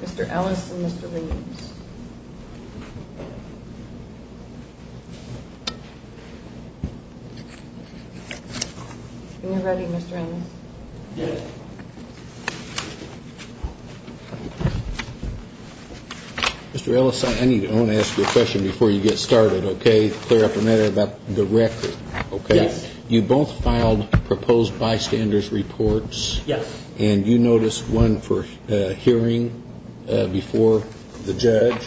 Mr. Ellis, I need to ask you a question before you get started, okay? You both filed proposed bystander's reports, and you noticed one for hearing before the judge.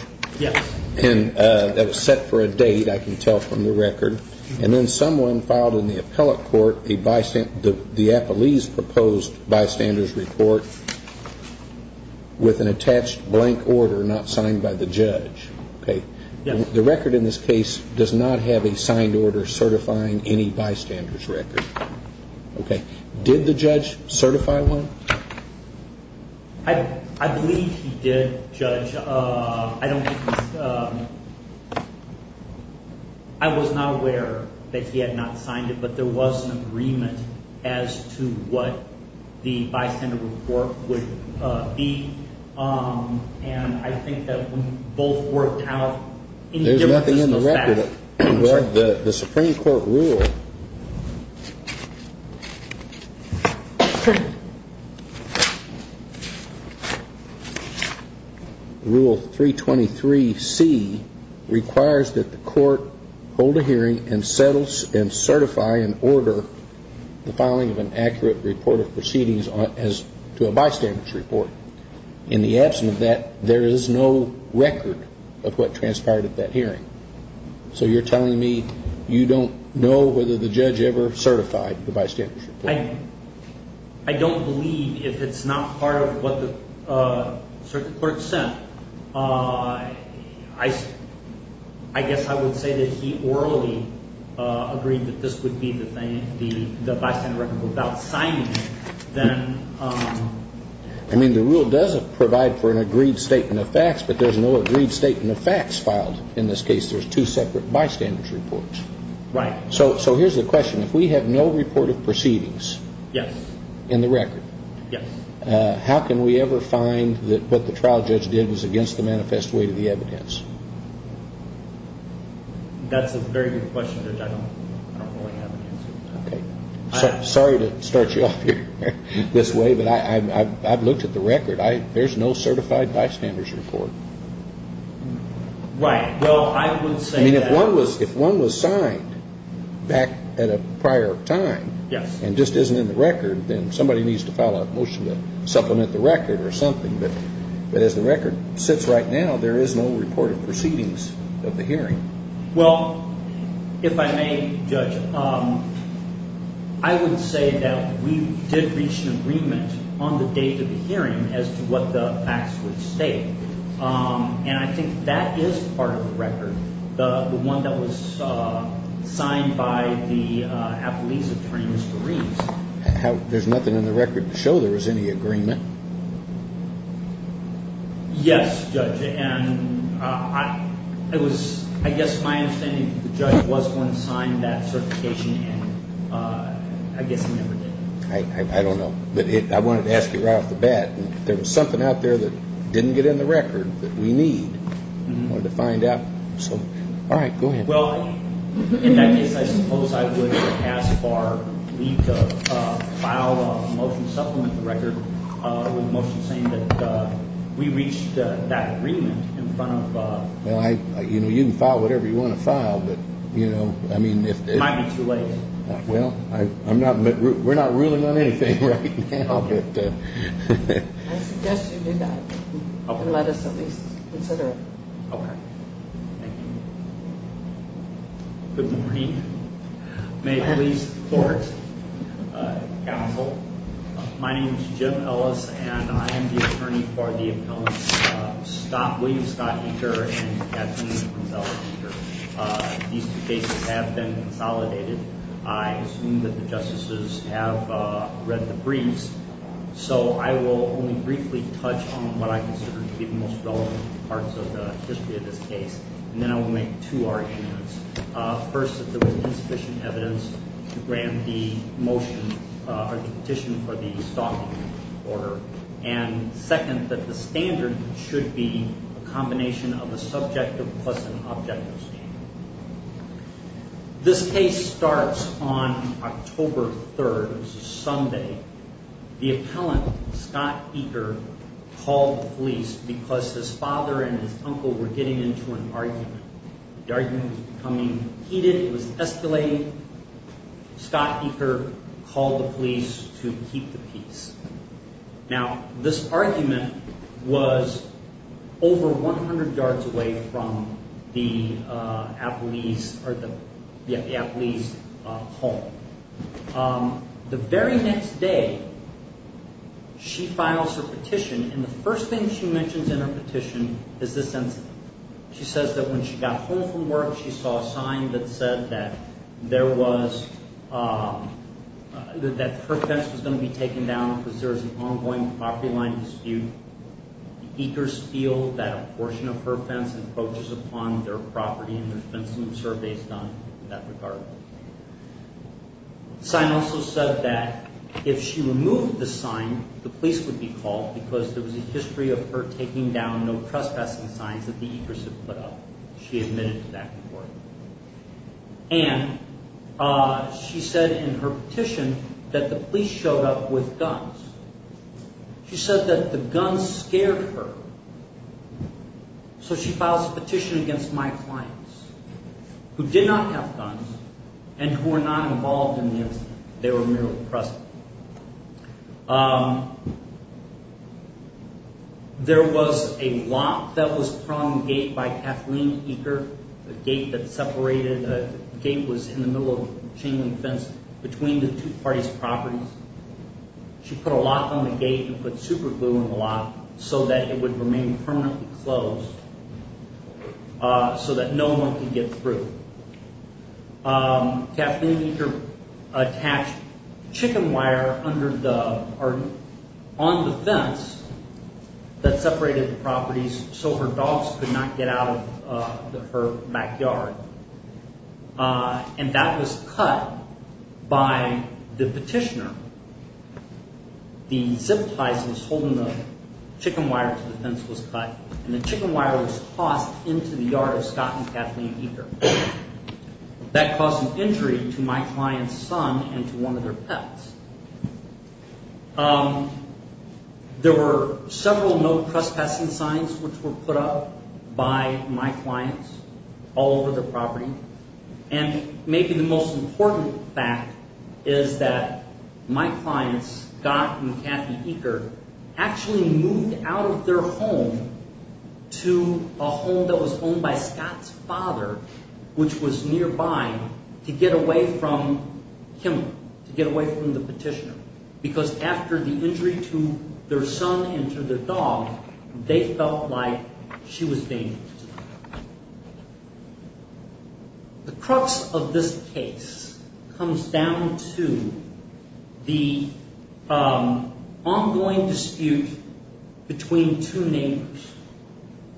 And that was set for a date, I can tell from the record. And then someone filed in the appellate court the Appalee's proposed bystander's report with an attached blank order not signed by the judge. The record in this case does not have a signed order certifying any bystander's record. Did the judge certify one? I believe he did, Judge. I was not aware that he had not signed it, but there was an agreement as to what the bystander report would be. And I think that we both worked out, in any given instance, that. There's nothing in the record. The Supreme Court rule 323C requires that the court hold a hearing and certify and order the filing of an accurate report of proceedings to a bystander's report. In the absence of that, there is no record of what transpired at that hearing. So you're telling me you don't know whether the judge ever certified the bystander's report? I don't believe if it's not part of what the court said. I guess I would say that he orally agreed that this would be the bystander record without signing it. I mean, the rule does provide for an agreed statement of facts, but there's no agreed statement of facts filed in this case. There's two separate bystander's reports. Right. So here's the question. If we have no report of proceedings in the record, how can we ever find that what the trial judge did was against the manifest weight of the evidence? That's a very good question, Judge. I don't really have an answer. Okay. Sorry to start you off here this way, but I've looked at the record. There's no certified bystander's report. Right. Well, I would say that. I mean, if one was signed back at a prior time and just isn't in the record, then somebody needs to file a motion to supplement the record or something. But as the record sits right now, there is no report of proceedings of the hearing. Well, if I may, Judge, I would say that we did reach an agreement on the date of the hearing as to what the facts would state. And I think that is part of the record, the one that was signed by the Apolis attorneys' briefs. There's nothing in the record to show there was any agreement. Yes, Judge. And I guess my understanding is the judge was going to sign that certification, and I guess he never did. I don't know. But I wanted to ask you right off the bat. If there was something out there that didn't get in the record that we need, I wanted to find out. So, all right, go ahead. Well, in that case, I suppose I would, as far, leave to file a motion to supplement the record with a motion saying that we reached that agreement in front of. Well, you can file whatever you want to file, but, you know, I mean, if. It might be too late. Well, we're not ruling on anything right now, but. I suggest you do that and let us at least consider it. Okay. Thank you. Good morning. May it please the court. Counsel. My name is Jim Ellis, and I am the attorney for the appellants, William Scott Eaker and Kathleen Gonzales Eaker. These two cases have been consolidated. I assume that the justices have read the briefs. So I will only briefly touch on what I consider to be the most relevant parts of the history of this case. And then I will make two arguments. First, that there was insufficient evidence to grant the motion or the petition for the stalking order. And second, that the standard should be a combination of a subjective plus an objective standard. This case starts on October 3rd. It's a Sunday. The appellant, Scott Eaker, called the police because his father and his uncle were getting into an argument. The argument was becoming heated. It was escalating. Scott Eaker called the police to keep the peace. Now, this argument was over 100 yards away from the appellee's home. The very next day, she files her petition, and the first thing she mentions in her petition is this sentence. She says that when she got home from work, she saw a sign that said that her fence was going to be taken down because there was an ongoing property line dispute. Eakers feel that a portion of her fence encroaches upon their property, and there's been some surveys done in that regard. The sign also said that if she removed the sign, the police would be called because there was a history of her taking down no trespassing signs that the Eakers had put up. She admitted to that report. And she said in her petition that the police showed up with guns. She said that the guns scared her, so she files a petition against my clients who did not have guns and who were not involved in the incident. They were merely trespassing. There was a lock that was from the gate by Kathleen Eaker, a gate that separated. The gate was in the middle of a chain link fence between the two parties' properties. She put a lock on the gate and put superglue in the lock so that it would remain permanently closed so that no one could get through. Kathleen Eaker attached chicken wire on the fence that separated the properties so her dogs could not get out of her backyard. And that was cut by the petitioner. The zip tie that was holding the chicken wire to the fence was cut, and the chicken wire was tossed into the yard of Scott and Kathleen Eaker. That caused an injury to my client's son and to one of their pets. There were several no trespassing signs which were put up by my clients all over the property. And maybe the most important fact is that my clients, Scott and Kathleen Eaker, actually moved out of their home to a home that was owned by Scott's father, which was nearby, to get away from him, to get away from the petitioner. Because after the injury to their son and to their dog, they felt like she was dangerous to them. The crux of this case comes down to the ongoing dispute between two neighbors.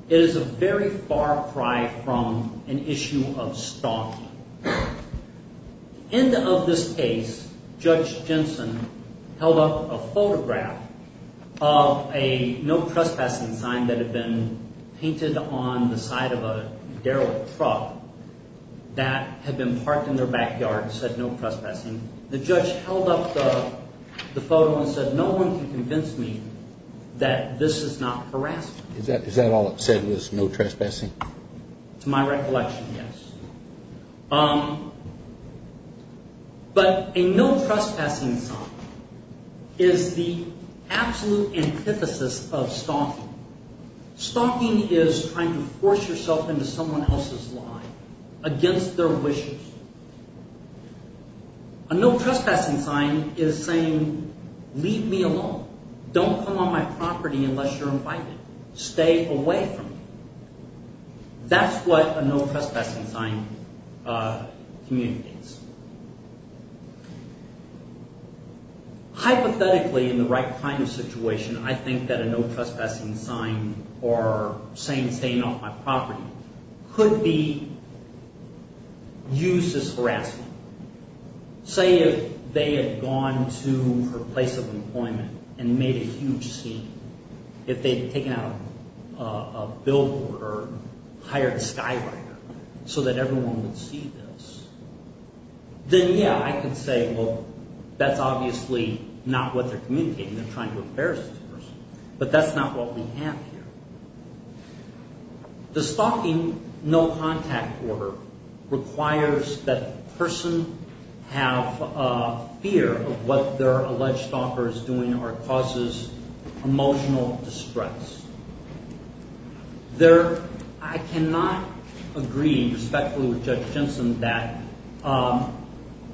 It is a very far cry from an issue of stalking. In this case, Judge Jensen held up a photograph of a no trespassing sign that had been painted on the side of a Daryl truck that had been parked in their backyard and said no trespassing. The judge held up the photo and said no one can convince me that this is not harassment. Is that all it said was no trespassing? To my recollection, yes. But a no trespassing sign is the absolute antithesis of stalking. Stalking is trying to force yourself into someone else's life against their wishes. A no trespassing sign is saying leave me alone. Don't come on my property unless you're invited. Stay away from me. That's what a no trespassing sign communicates. Hypothetically, in the right kind of situation, I think that a no trespassing sign or saying stay off my property could be used as harassment. Say if they had gone to her place of employment and made a huge scene. If they had taken out a billboard or hired a skywriter so that everyone would see this. Then, yeah, I could say, well, that's obviously not what they're communicating. They're trying to embarrass this person. But that's not what we have here. The stalking no contact order requires that the person have a fear of what their alleged stalker is doing or causes emotional distress. I cannot agree respectfully with Judge Jensen that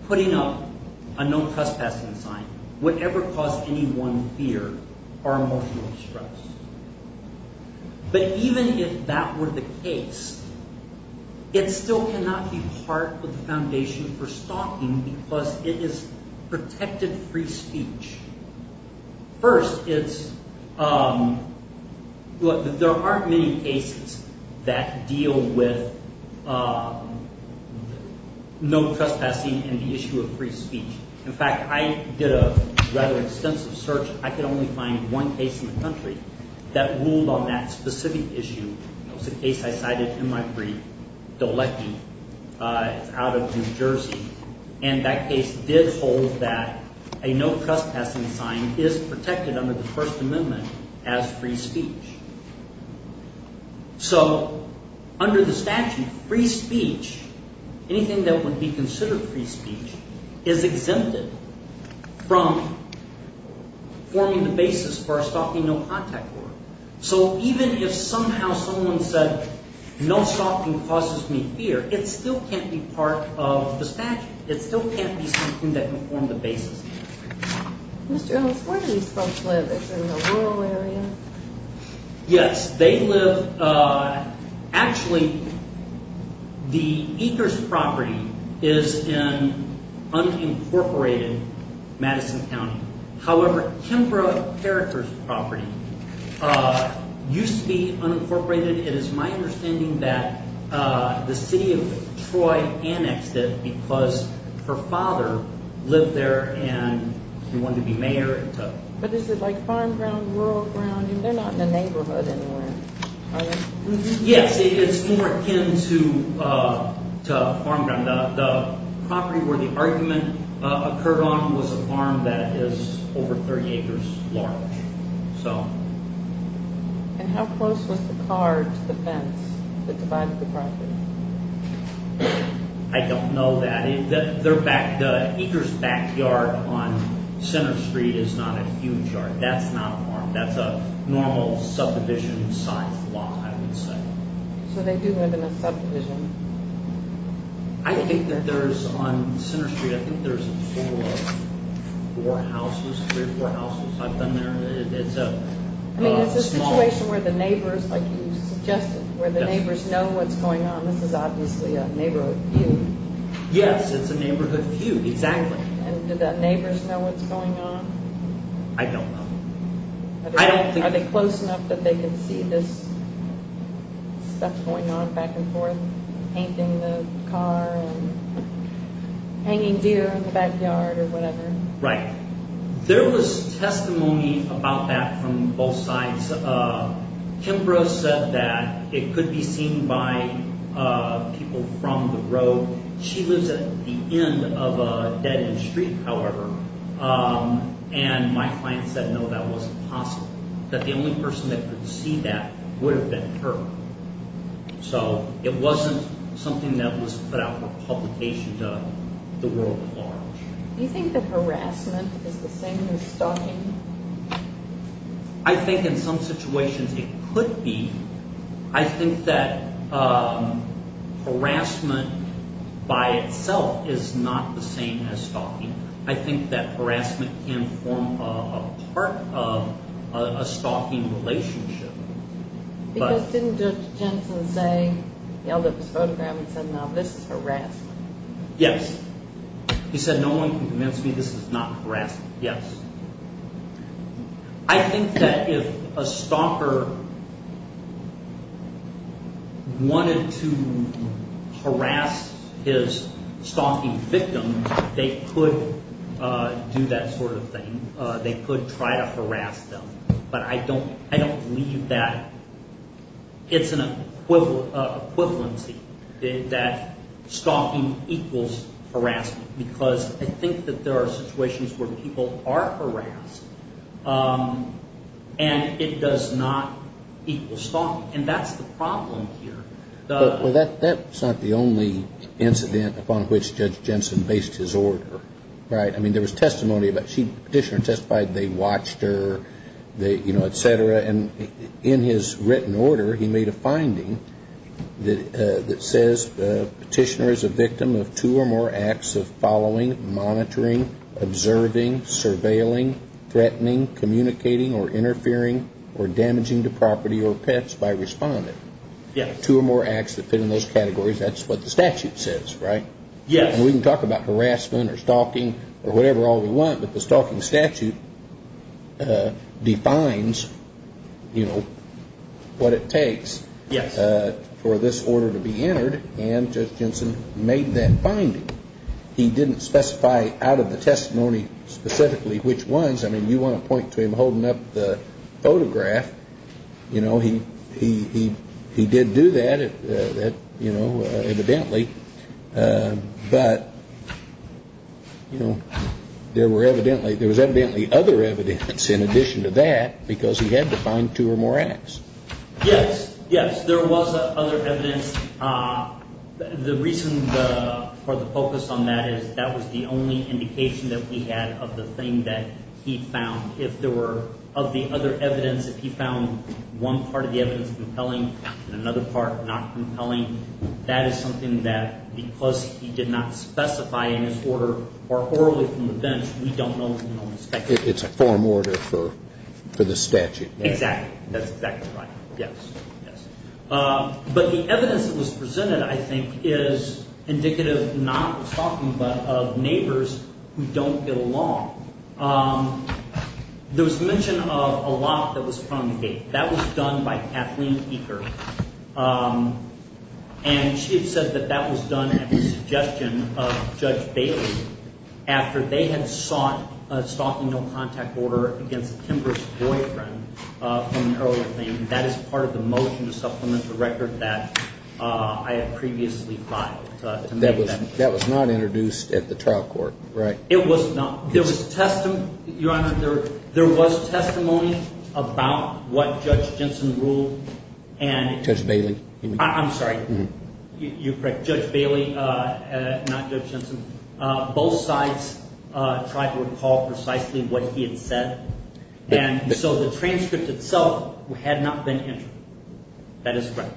putting up a no trespassing sign would ever cause anyone fear or emotional distress. But even if that were the case, it still cannot be part of the foundation for stalking because it is protected free speech. First, there aren't many cases that deal with no trespassing and the issue of free speech. In fact, I did a rather extensive search. I could only find one case in the country that ruled on that specific issue. It was a case I cited in my brief, Dolecki. It's out of New Jersey. And that case did hold that a no trespassing sign is protected under the First Amendment as free speech. So under the statute, free speech, anything that would be considered free speech, is exempted from forming the basis for a stalking no contact order. So even if somehow someone said no stalking causes me fear, it still can't be part of the statute. It still can't be something that can form the basis. Mr. Ellis, where do these folks live? Is it in a rural area? Yes, they live... Actually, the Ekers property is in unincorporated Madison County. However, Kimbrough Carriker's property used to be unincorporated. It is my understanding that the city of Troy annexed it because her father lived there and he wanted to be mayor. But is it like farm ground, rural ground? They're not in a neighborhood anywhere, are they? Yes, it's more akin to farm ground. The property where the argument occurred on was a farm that is over 30 acres large. And how close was the car to the fence that divided the property? I don't know that. The Ekers backyard on Center Street is not a huge yard. That's not a farm. That's a normal subdivision sized lot, I would say. So they do live in a subdivision? I think that there's, on Center Street, I think there's four houses, three or four houses. I've been there. I mean, is this a situation where the neighbors, like you suggested, where the neighbors know what's going on? This is obviously a neighborhood feud. Yes, it's a neighborhood feud, exactly. And do the neighbors know what's going on? I don't know. Are they close enough that they can see this stuff going on back and forth, painting the car and hanging deer in the backyard or whatever? Right. There was testimony about that from both sides. Kimbrough said that it could be seen by people from the road. She lives at the end of a dead-end street, however, and my client said, no, that wasn't possible, that the only person that could see that would have been her. So it wasn't something that was put out for publication to the world at large. Do you think that harassment is the same as stalking? I think in some situations it could be. I think that harassment by itself is not the same as stalking. I think that harassment can form a part of a stalking relationship. Because didn't Judge Jensen say, he held up his photograph and said, no, this is harassment. Yes. He said, no one can convince me this is not harassment. Yes. I think that if a stalker wanted to harass his stalking victim, they could do that sort of thing. They could try to harass them. But I don't believe that it's an equivalency, that stalking equals harassment. Because I think that there are situations where people are harassed, and it does not equal stalking. And that's the problem here. Well, that's not the only incident upon which Judge Jensen based his order, right? I mean, there was testimony about she, petitioner testified they watched her, you know, et cetera. And in his written order, he made a finding that says petitioner is a victim of two or more acts of following, monitoring, observing, surveilling, threatening, communicating, or interfering, or damaging to property or pets by respondent. Two or more acts that fit in those categories, that's what the statute says, right? Yes. And we can talk about harassment or stalking or whatever all we want, but the stalking statute defines, you know, what it takes. Yes. For this order to be entered, and Judge Jensen made that finding. He didn't specify out of the testimony specifically which ones. I mean, you want to point to him holding up the photograph. You know, he did do that, you know, evidently. But, you know, there were evidently, there was evidently other evidence in addition to that because he had to find two or more acts. Yes. Yes. There was other evidence. The reason for the focus on that is that was the only indication that we had of the thing that he found. If there were, of the other evidence, if he found one part of the evidence compelling and another part not compelling, that is something that because he did not specify in his order or orally from the bench, we don't know. It's a form order for the statute. Exactly. That's exactly right. Yes. Yes. But the evidence that was presented, I think, is indicative not of stalking but of neighbors who don't get along. There was mention of a lock that was found on the gate. That was done by Kathleen Eaker. And she had said that that was done at the suggestion of Judge Bailey after they had sought a stalking no contact order against Kimber's boyfriend from an earlier claim. That is part of the motion to supplement the record that I had previously filed. That was not introduced at the trial court, right? It was not. There was testimony, Your Honor, there was testimony about what Judge Jensen ruled. Judge Bailey. I'm sorry. You're correct. Judge Bailey, not Judge Jensen. Both sides tried to recall precisely what he had said. And so the transcript itself had not been entered. That is correct.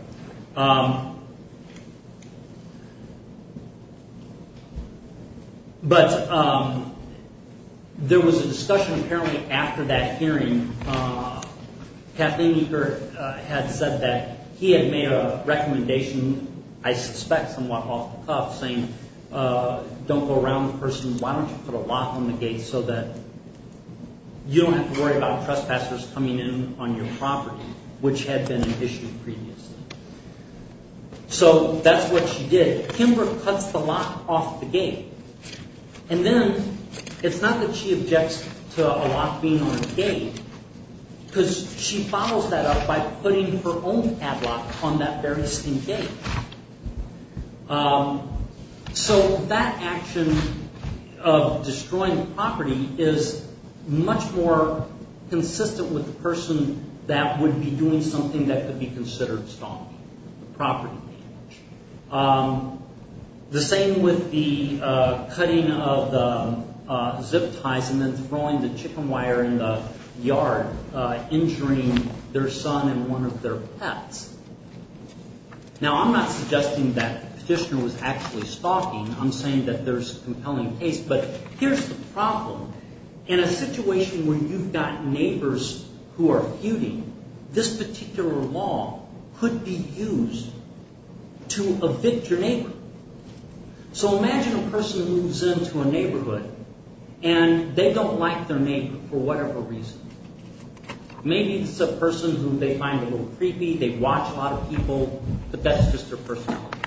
But there was a discussion apparently after that hearing. Kathleen Eaker had said that he had made a recommendation, I suspect somewhat off the cuff, saying don't go around the person. Why don't you put a lock on the gate so that you don't have to worry about trespassers coming in on your property, which had been issued previously. So that's what she did. Kimber cuts the lock off the gate. And then it's not that she objects to a lock being on a gate because she follows that up by putting her own ad lock on that very same gate. So that action of destroying the property is much more consistent with the person that would be doing something that could be considered stoning, the property damage. The same with the cutting of the zip ties and then throwing the chicken wire in the yard, injuring their son and one of their pets. Now, I'm not suggesting that the petitioner was actually stalking. I'm saying that there's a compelling case. But here's the problem. In a situation where you've got neighbors who are feuding, this particular law could be used to evict your neighbor. So imagine a person moves into a neighborhood and they don't like their neighbor for whatever reason. Maybe it's a person who they find a little creepy, they watch a lot of people, but that's just their personality.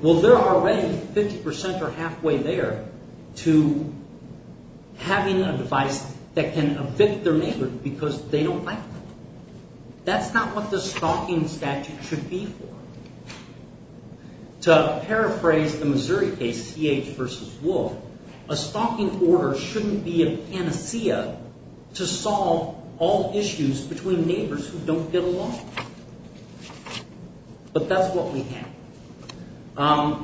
Well, they're already 50% or halfway there to having a device that can evict their neighbor because they don't like them. That's not what the stalking statute should be for. To paraphrase the Missouri case, CH v. Wolf, a stalking order shouldn't be a panacea to solve all issues between neighbors who don't get along. But that's what we have.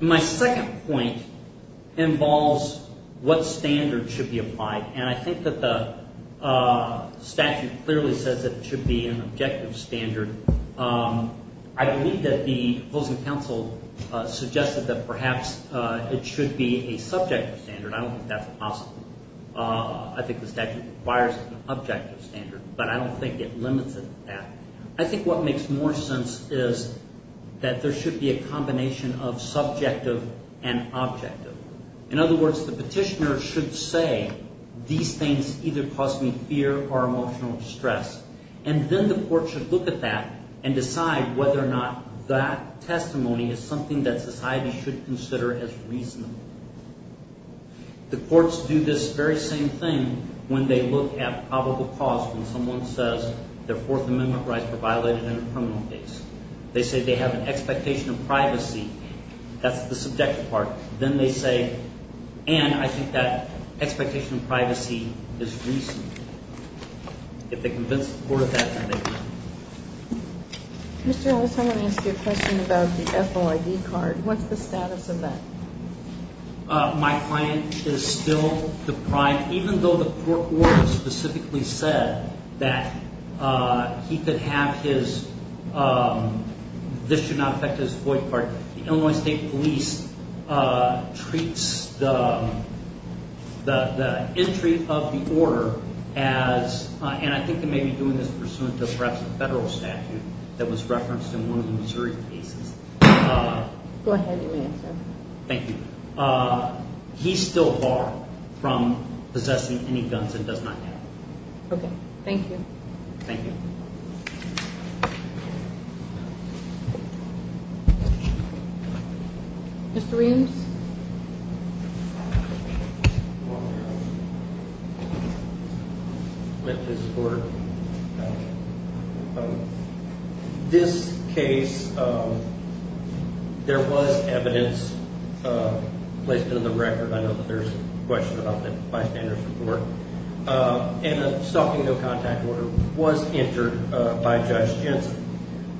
My second point involves what standards should be applied. And I think that the statute clearly says that it should be an objective standard. I believe that the opposing counsel suggested that perhaps it should be a subjective standard. I don't think that's possible. I think the statute requires an objective standard, but I don't think it limits it to that. I think what makes more sense is that there should be a combination of subjective and objective. In other words, the petitioner should say, these things either cause me fear or emotional distress. And then the court should look at that and decide whether or not that testimony is something that society should consider as reasonable. The courts do this very same thing when they look at probable cause when someone says their Fourth Amendment rights were violated in a criminal case. They say they have an expectation of privacy. That's the subjective part. Then they say, and I think that expectation of privacy is reasonable. If they convince the court of that, then they agree. Mr. Ellis, I want to ask you a question about the FOID card. What's the status of that? My client is still deprived, even though the court order specifically said that he could have his – this should not affect his FOID card. The Illinois State Police treats the entry of the order as – and I think they may be doing this pursuant to perhaps a federal statute that was referenced in one of the Missouri cases. Go ahead, you may answer. Thank you. He's still barred from possessing any guns and does not have them. Okay. Thank you. Thank you. Mr. Williams? Mr. Williams? Let this court – this case, there was evidence placed in the record. I know that there's a question about that bystander's report. And a stalking no-contact order was entered by Judge Jensen.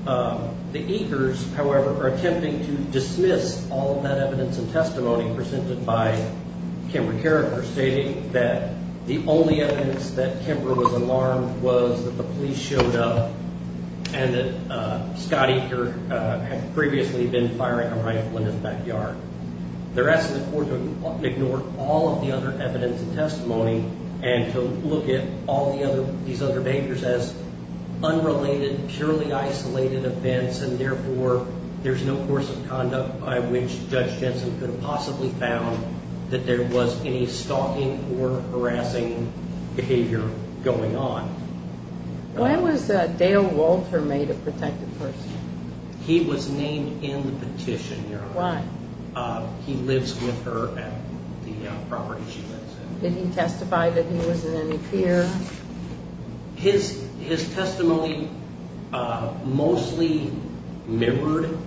The Ekers, however, are attempting to dismiss all of that evidence and testimony presented by Kimber Carriger stating that the only evidence that Kimber was alarmed was that the police showed up and that Scott Eker had previously been firing a rifle in his backyard. They're asking the court to ignore all of the other evidence and testimony and to look at all these other behaviors as unrelated, purely isolated events, and therefore there's no course of conduct by which Judge Jensen could have possibly found that there was any stalking or harassing behavior going on. When was Dale Walter made a protected person? He was named in the petition, Your Honor. Why? He lives with her at the property she lives in. Did he testify that he was in any fear? His testimony mostly mirrored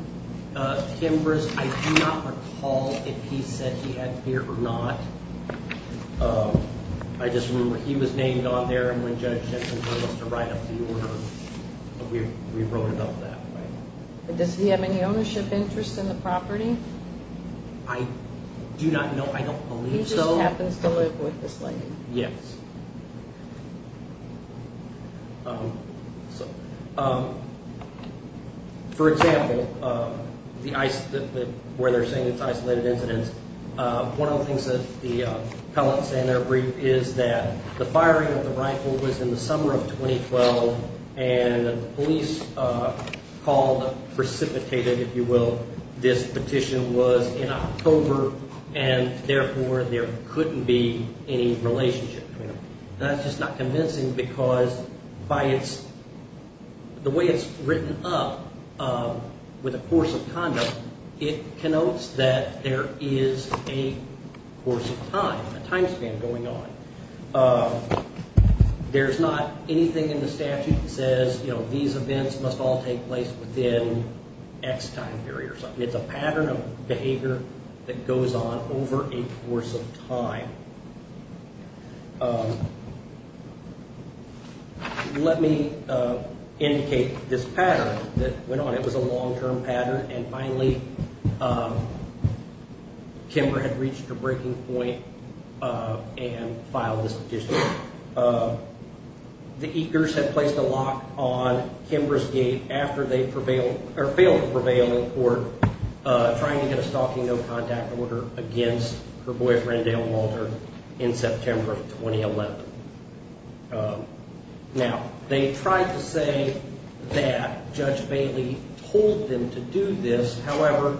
Kimber's. I do not recall if he said he had fear or not. I just remember he was named on there, and when Judge Jensen told us to write up the order, we wrote it up that way. Does he have any ownership interest in the property? I do not know. I don't believe so. He just happens to live with this lady? Yes. For example, where they're saying it's isolated incidents, one of the things that the pellets and their brief is that the firing of the rifle was in the summer of 2012, and the police called precipitated, if you will. This petition was in October, and therefore, there couldn't be any relationship. That's just not convincing, because the way it's written up with a course of conduct, it connotes that there is a course of time, a time span going on. There's not anything in the statute that says these events must all take place within X time period or something. It's a pattern of behavior that goes on over a course of time. Let me indicate this pattern that went on. It was a long-term pattern, and finally, Kimber had reached a breaking point and filed this petition. The Ekers had placed a lock on Kimber's gate after they failed to prevail in court, trying to get a stalking no contact order against her boyfriend Dale Walter in September of 2011. Now, they tried to say that Judge Bailey told them to do this. However,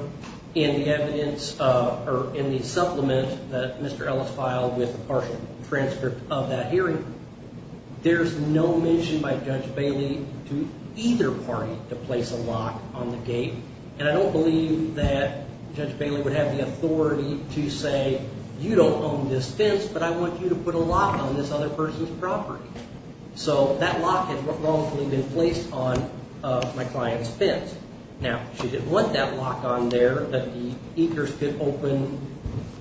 in the evidence or in the supplement that Mr. Ellis filed with partial transcript of that hearing, there's no mention by Judge Bailey to either party to place a lock on the gate. And I don't believe that Judge Bailey would have the authority to say, you don't own this fence, but I want you to put a lock on this other person's property. So that lock had wrongfully been placed on my client's fence. Now, she didn't want that lock on there that the Ekers could open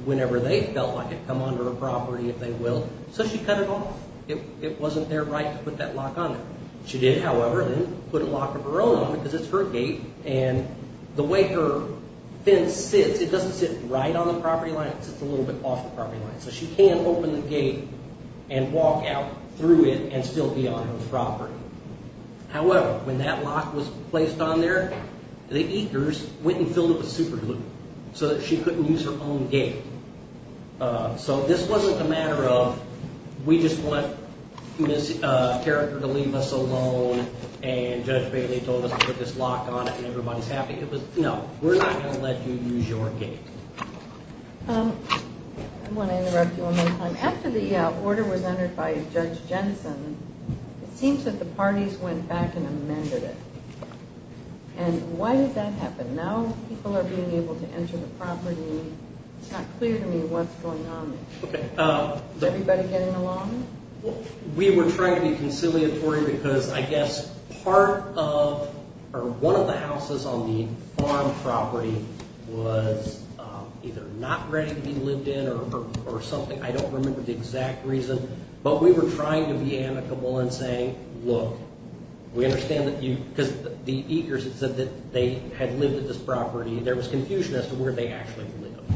whenever they felt like it, come onto her property if they will, so she cut it off. It wasn't their right to put that lock on there. She did, however, put a lock of her own on it because it's her gate, and the way her fence sits, it doesn't sit right on the property line, it sits a little bit off the property line. So she can open the gate and walk out through it and still be on her property. However, when that lock was placed on there, the Ekers went and filled up a super loop so that she couldn't use her own gate. So this wasn't a matter of, we just want Ms. Character to leave us alone and Judge Bailey told us to put this lock on it and everybody's happy. No, we're not going to let you use your gate. I want to interrupt you one more time. After the order was entered by Judge Jensen, it seems that the parties went back and amended it. And why did that happen? Now people are being able to enter the property. It's not clear to me what's going on. Is everybody getting along? We were trying to be conciliatory because I guess part of, or one of the houses on the farm property was either not ready to be lived in or something. I don't remember the exact reason, but we were trying to be amicable in saying, look, we understand that you, because the Ekers had said that they had lived at this property. There was confusion as to where they actually lived.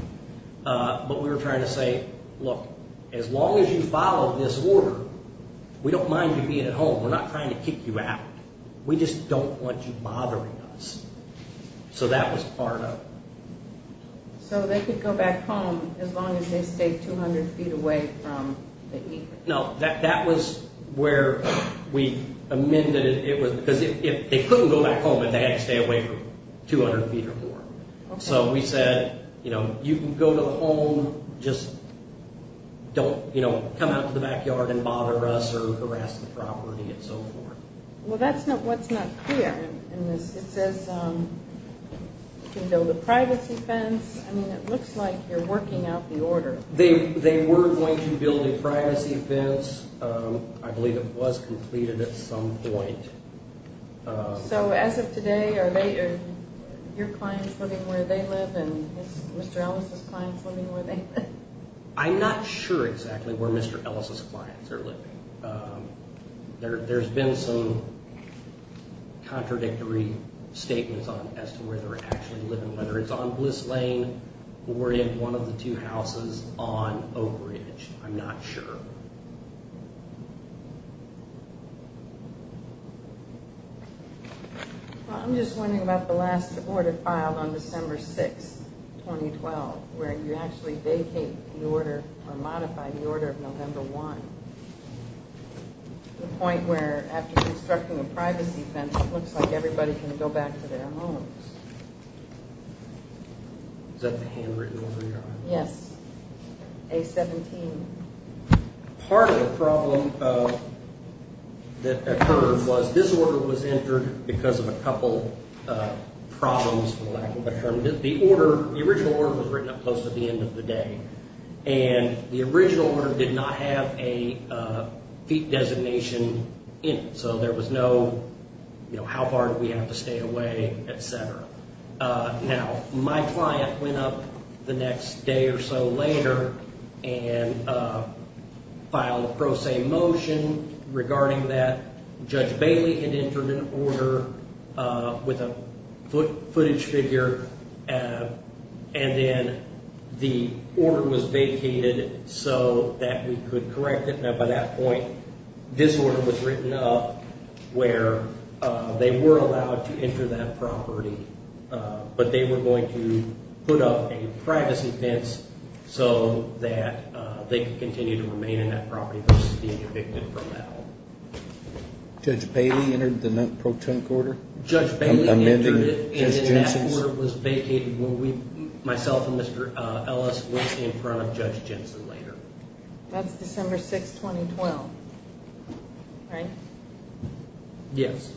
But we were trying to say, look, as long as you follow this order, we don't mind you being at home. We're not trying to kick you out. We just don't want you bothering us. So that was part of it. So they could go back home as long as they stayed 200 feet away from the Ekers. No, that was where we amended it. Because they couldn't go back home if they had to stay away from 200 feet or more. So we said, you can go to the home. Just don't come out to the backyard and bother us or harass the property and so forth. Well, that's what's not clear in this. It says you can build a privacy fence. I mean, it looks like you're working out the order. They were going to build a privacy fence. I believe it was completed at some point. So as of today, are your clients living where they live? And is Mr. Ellis' clients living where they live? I'm not sure exactly where Mr. Ellis' clients are living. There's been some contradictory statements as to where they're actually living, whether it's on Bliss Lane or in one of the two houses on Oak Ridge. I'm not sure. I'm just wondering about the last order filed on December 6, 2012, where you actually vacate the order or modify the order of November 1. The point where after constructing a privacy fence, it looks like everybody can go back to their homes. Is that the hand written over your eye? Yes, A-17. Part of the problem that occurred was this order was entered because of a couple problems. The original order was written up close to the end of the day, and the original order did not have a designation in it. So there was no, you know, how far do we have to stay away, et cetera. Now, my client went up the next day or so later and filed a pro se motion regarding that. Judge Bailey had entered an order with a footage figure, and then the order was vacated so that we could correct it. Now, by that point, this order was written up where they were allowed to enter that property, but they were going to put up a privacy fence so that they could continue to remain in that property versus being evicted from that one. Judge Bailey entered the pro tempore order? Judge Bailey entered it, and then that order was vacated when we, myself and Mr. Ellis, went in front of Judge Jensen later. That's December 6, 2012, right? Yes.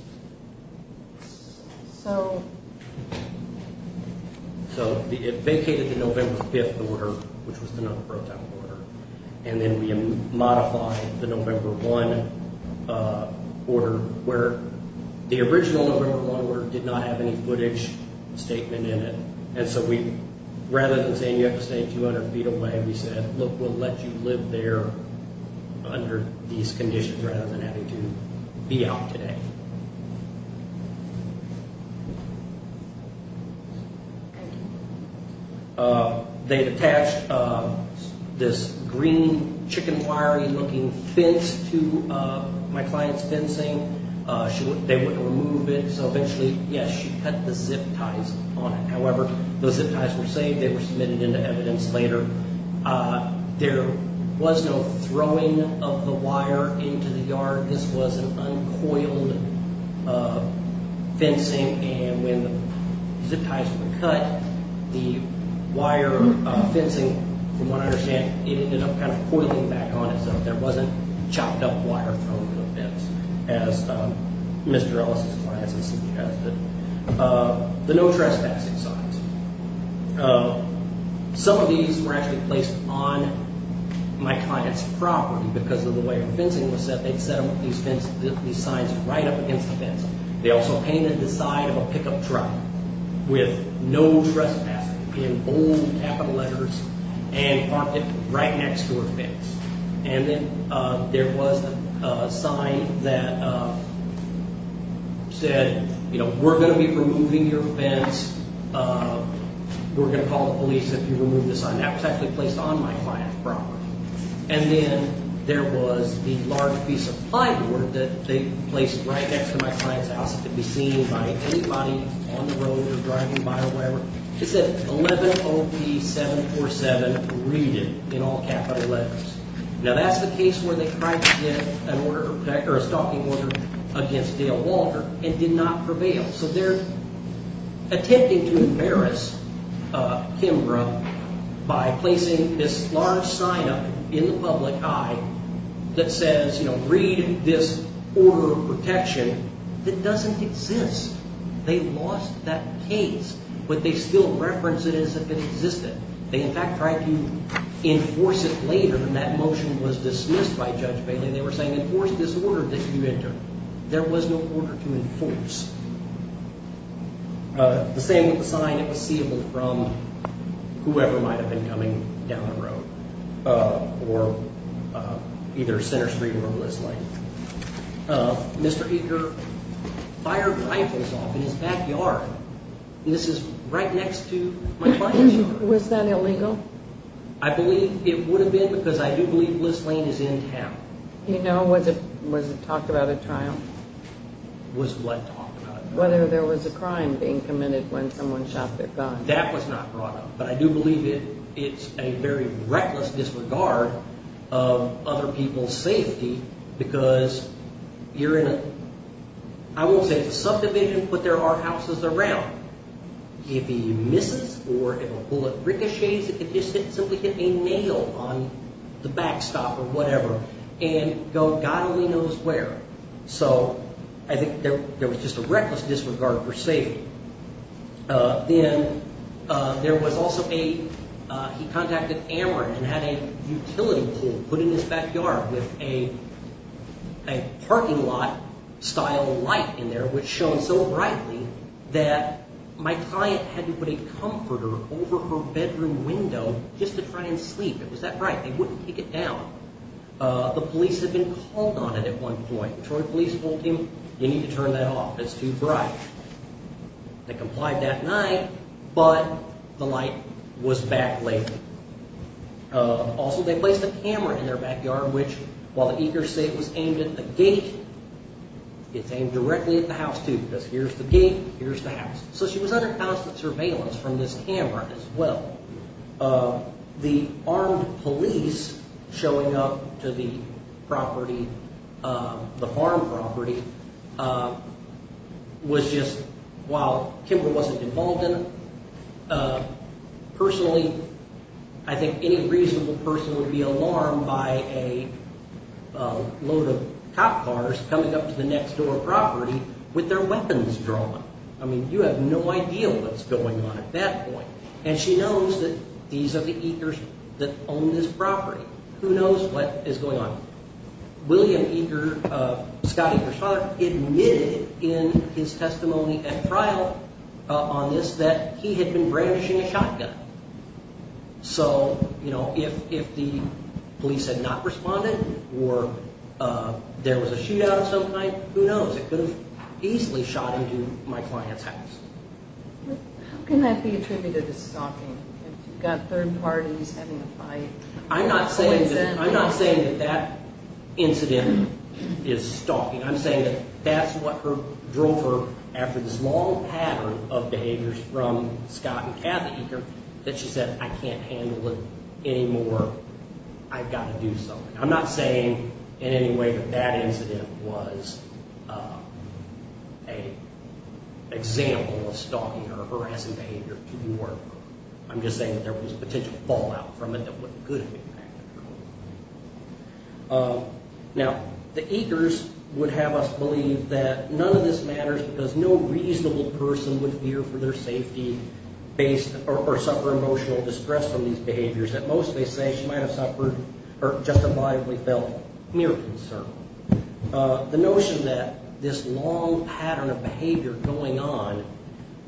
So? So it vacated the November 5 order, which was the no pro tempore order, and then we modified the November 1 order where the original November 1 order did not have any footage statement in it. And so rather than saying you have to stay 200 feet away, we said, look, we'll let you live there under these conditions rather than having to be out today. They attached this green chicken wiry looking fence to my client's fencing. They wouldn't remove it, so eventually, yes, she cut the zip ties on it. However, the zip ties were saved. They were submitted into evidence later. There was no throwing of the wire into the yard. This was an uncoiled fencing, and when the zip ties were cut, the wire fencing, from what I understand, it ended up kind of coiling back on itself. There wasn't chopped up wire thrown to the fence, as Mr. Ellis' clients had suggested. The no trespassing signs, some of these were actually placed on my client's property because of the way her fencing was set. They set these signs right up against the fence. They also painted the side of a pickup truck with no trespassing in bold capital letters right next to her fence. There was a sign that said, we're going to be removing your fence. We're going to call the police if you remove the sign. That was actually placed on my client's property. Then there was the large piece of plywood that they placed right next to my client's house. It could be seen by anybody on the road or driving by or wherever. It said 11OP747 READED in all capital letters. Now that's the case where they tried to get a stalking order against Dale Walter and did not prevail. So they're attempting to embarrass Kimbrough by placing this large sign up in the public eye that says, you know, read this order of protection that doesn't exist. They lost that case, but they still reference it as if it existed. They, in fact, tried to enforce it later, and that motion was dismissed by Judge Bailey. They were saying, enforce this order that you entered. There was no order to enforce. The same with the sign. It was seeable from whoever might have been coming down the road or either Center Street or this lane. Mr. Eaker fired rifles off in his backyard, and this is right next to my client's yard. Was that illegal? I believe it would have been because I do believe this lane is in town. You know, was it talked about at trial? Was what talked about at trial? Whether there was a crime being committed when someone shot their gun. That was not brought up, but I do believe it. It's a very reckless disregard of other people's safety because you're in a, I won't say it's a subdivision, but there are houses around. If he misses or if a bullet ricochets at the distance, simply hit a nail on the backstop or whatever and go god only knows where. So I think there was just a reckless disregard for safety. Then there was also a, he contacted Amherst and had a utility pool put in his backyard with a parking lot style light in there which shone so brightly that my client had to put a comforter over her bedroom window just to try and sleep. Was that right? They wouldn't take it down. The police had been called on it at one point. Detroit police told him you need to turn that off. It's too bright. They complied that night, but the light was back later. Also, they placed a camera in their backyard which, while the eager say it was aimed at the gate, it's aimed directly at the house too because here's the gate, here's the house. So she was under constant surveillance from this camera as well. The armed police showing up to the property, the farm property, was just, while Kimber wasn't involved in it, personally I think any reasonable person would be alarmed by a load of cop cars coming up to the next door property with their weapons drawn. I mean you have no idea what's going on at that point. And she knows that these are the eagers that own this property. Who knows what is going on. William Eager, Scott Eager's father, admitted in his testimony at trial on this that he had been brandishing a shotgun. So if the police had not responded or there was a shootout of some kind, who knows, it could have easily shot into my client's house. How can that be attributed to stalking? You've got third parties having a fight. I'm not saying that that incident is stalking. I'm saying that that's what drove her after this long pattern of behaviors from Scott and Kathy Eager that she said I can't handle it anymore. I've got to do something. I'm not saying in any way that that incident was an example of stalking or harassing behavior to the order. I'm just saying that there was potential fallout from it that would have impacted her. Now, the Eagers would have us believe that none of this matters because no reasonable person would fear for their safety or suffer emotional distress from these behaviors. Most may say she might have suffered or justifiably felt mere concern. The notion that this long pattern of behavior going on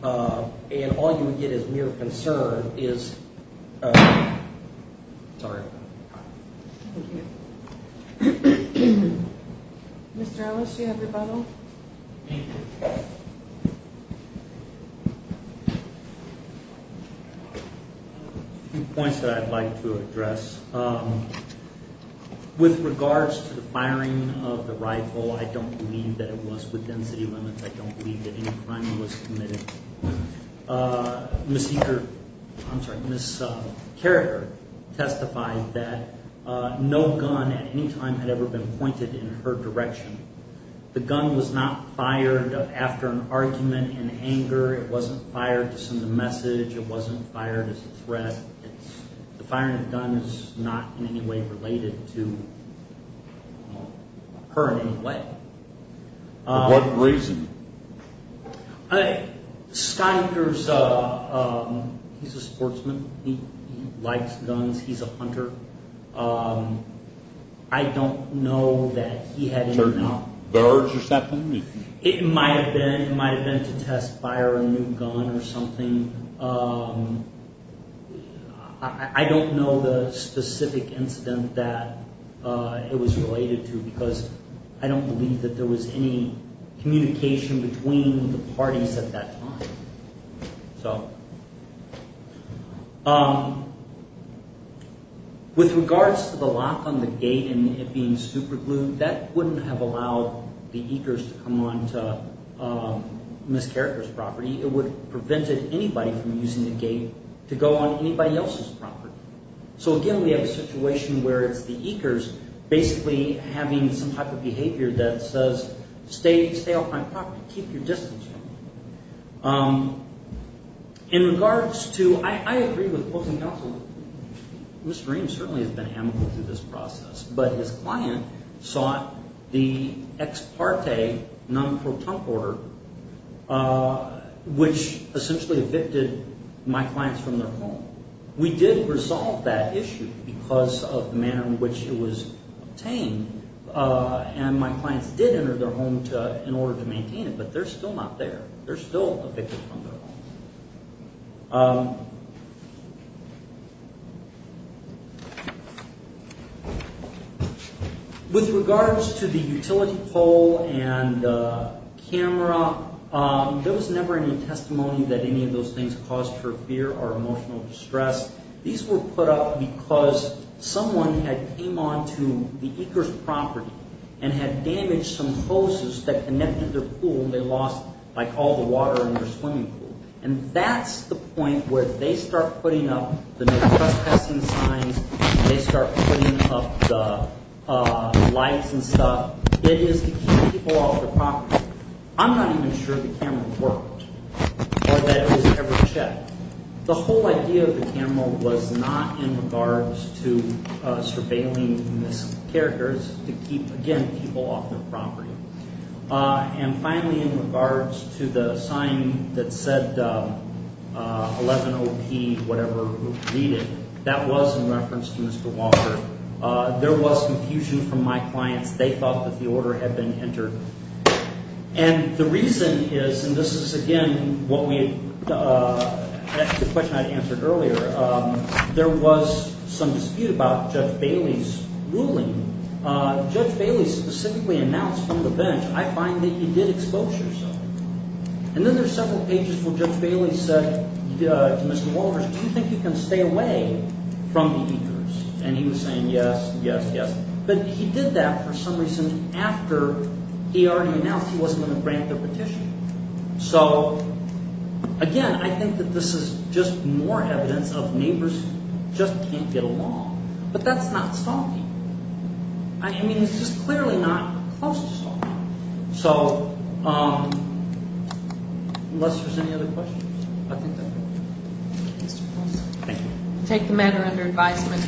and all you would get is mere concern is... Mr. Ellis, do you have your bottle? Thank you. Two points that I'd like to address. With regards to the firing of the rifle, I don't believe that it was within city limits. I don't believe that any crime was committed. Ms. Eager, I'm sorry, Ms. Carragher testified that no gun at any time had ever been pointed in her direction. The gun was not fired after an argument in anger. It wasn't fired to send a message. It wasn't fired as a threat. The firing of the gun is not in any way related to her in any way. For what reason? Scott Eagers, he's a sportsman. He likes guns. He's a hunter. I don't know that he had any... Certain birds or something? It might have been to test fire a new gun or something. I don't know the specific incident that it was related to because I don't believe that there was any communication between the parties at that time. With regards to the lock on the gate and it being superglued, that wouldn't have allowed the Eagers to come onto Ms. Carragher's property. It would have prevented anybody from using the gate to go on anybody else's property. So, again, we have a situation where it's the Eagers basically having some type of behavior that says, stay off my property, keep your distance. In regards to... I agree with both of them. Mr. Reams certainly has been amicable to this process, but his client sought the ex parte non-proton order, which essentially evicted my clients from their home. We did resolve that issue because of the manner in which it was obtained, and my clients did enter their home in order to maintain it, but they're still not there. They're still evicted from their home. Thank you. With regards to the utility pole and the camera, there was never any testimony that any of those things caused her fear or emotional distress. These were put up because someone had came onto the Eagers' property and had damaged some hoses that connected their pool, and they lost all the water in their swimming pool. And that's the point where they start putting up the no trespassing signs, they start putting up the lights and stuff. It is to keep people off their property. I'm not even sure the camera worked or that it was ever checked. The whole idea of the camera was not in regards to surveilling missing characters to keep, again, people off their property. And finally, in regards to the sign that said 11OP whatever needed, that was in reference to Mr. Walker. There was confusion from my clients. They thought that the order had been entered. And the reason is, and this is, again, the question I answered earlier, there was some dispute about Judge Bailey's ruling. Judge Bailey specifically announced from the bench, I find that he did exposure something. And then there's several pages where Judge Bailey said to Mr. Walters, do you think you can stay away from the Eagers? And he was saying yes, yes, yes. But he did that for some reason after he already announced he wasn't going to grant the petition. So, again, I think that this is just more evidence of neighbors just can't get along. But that's not salty. I mean, this is clearly not close to salty. So unless there's any other questions, I think that's it. Thank you. We'll take the matter under advisement.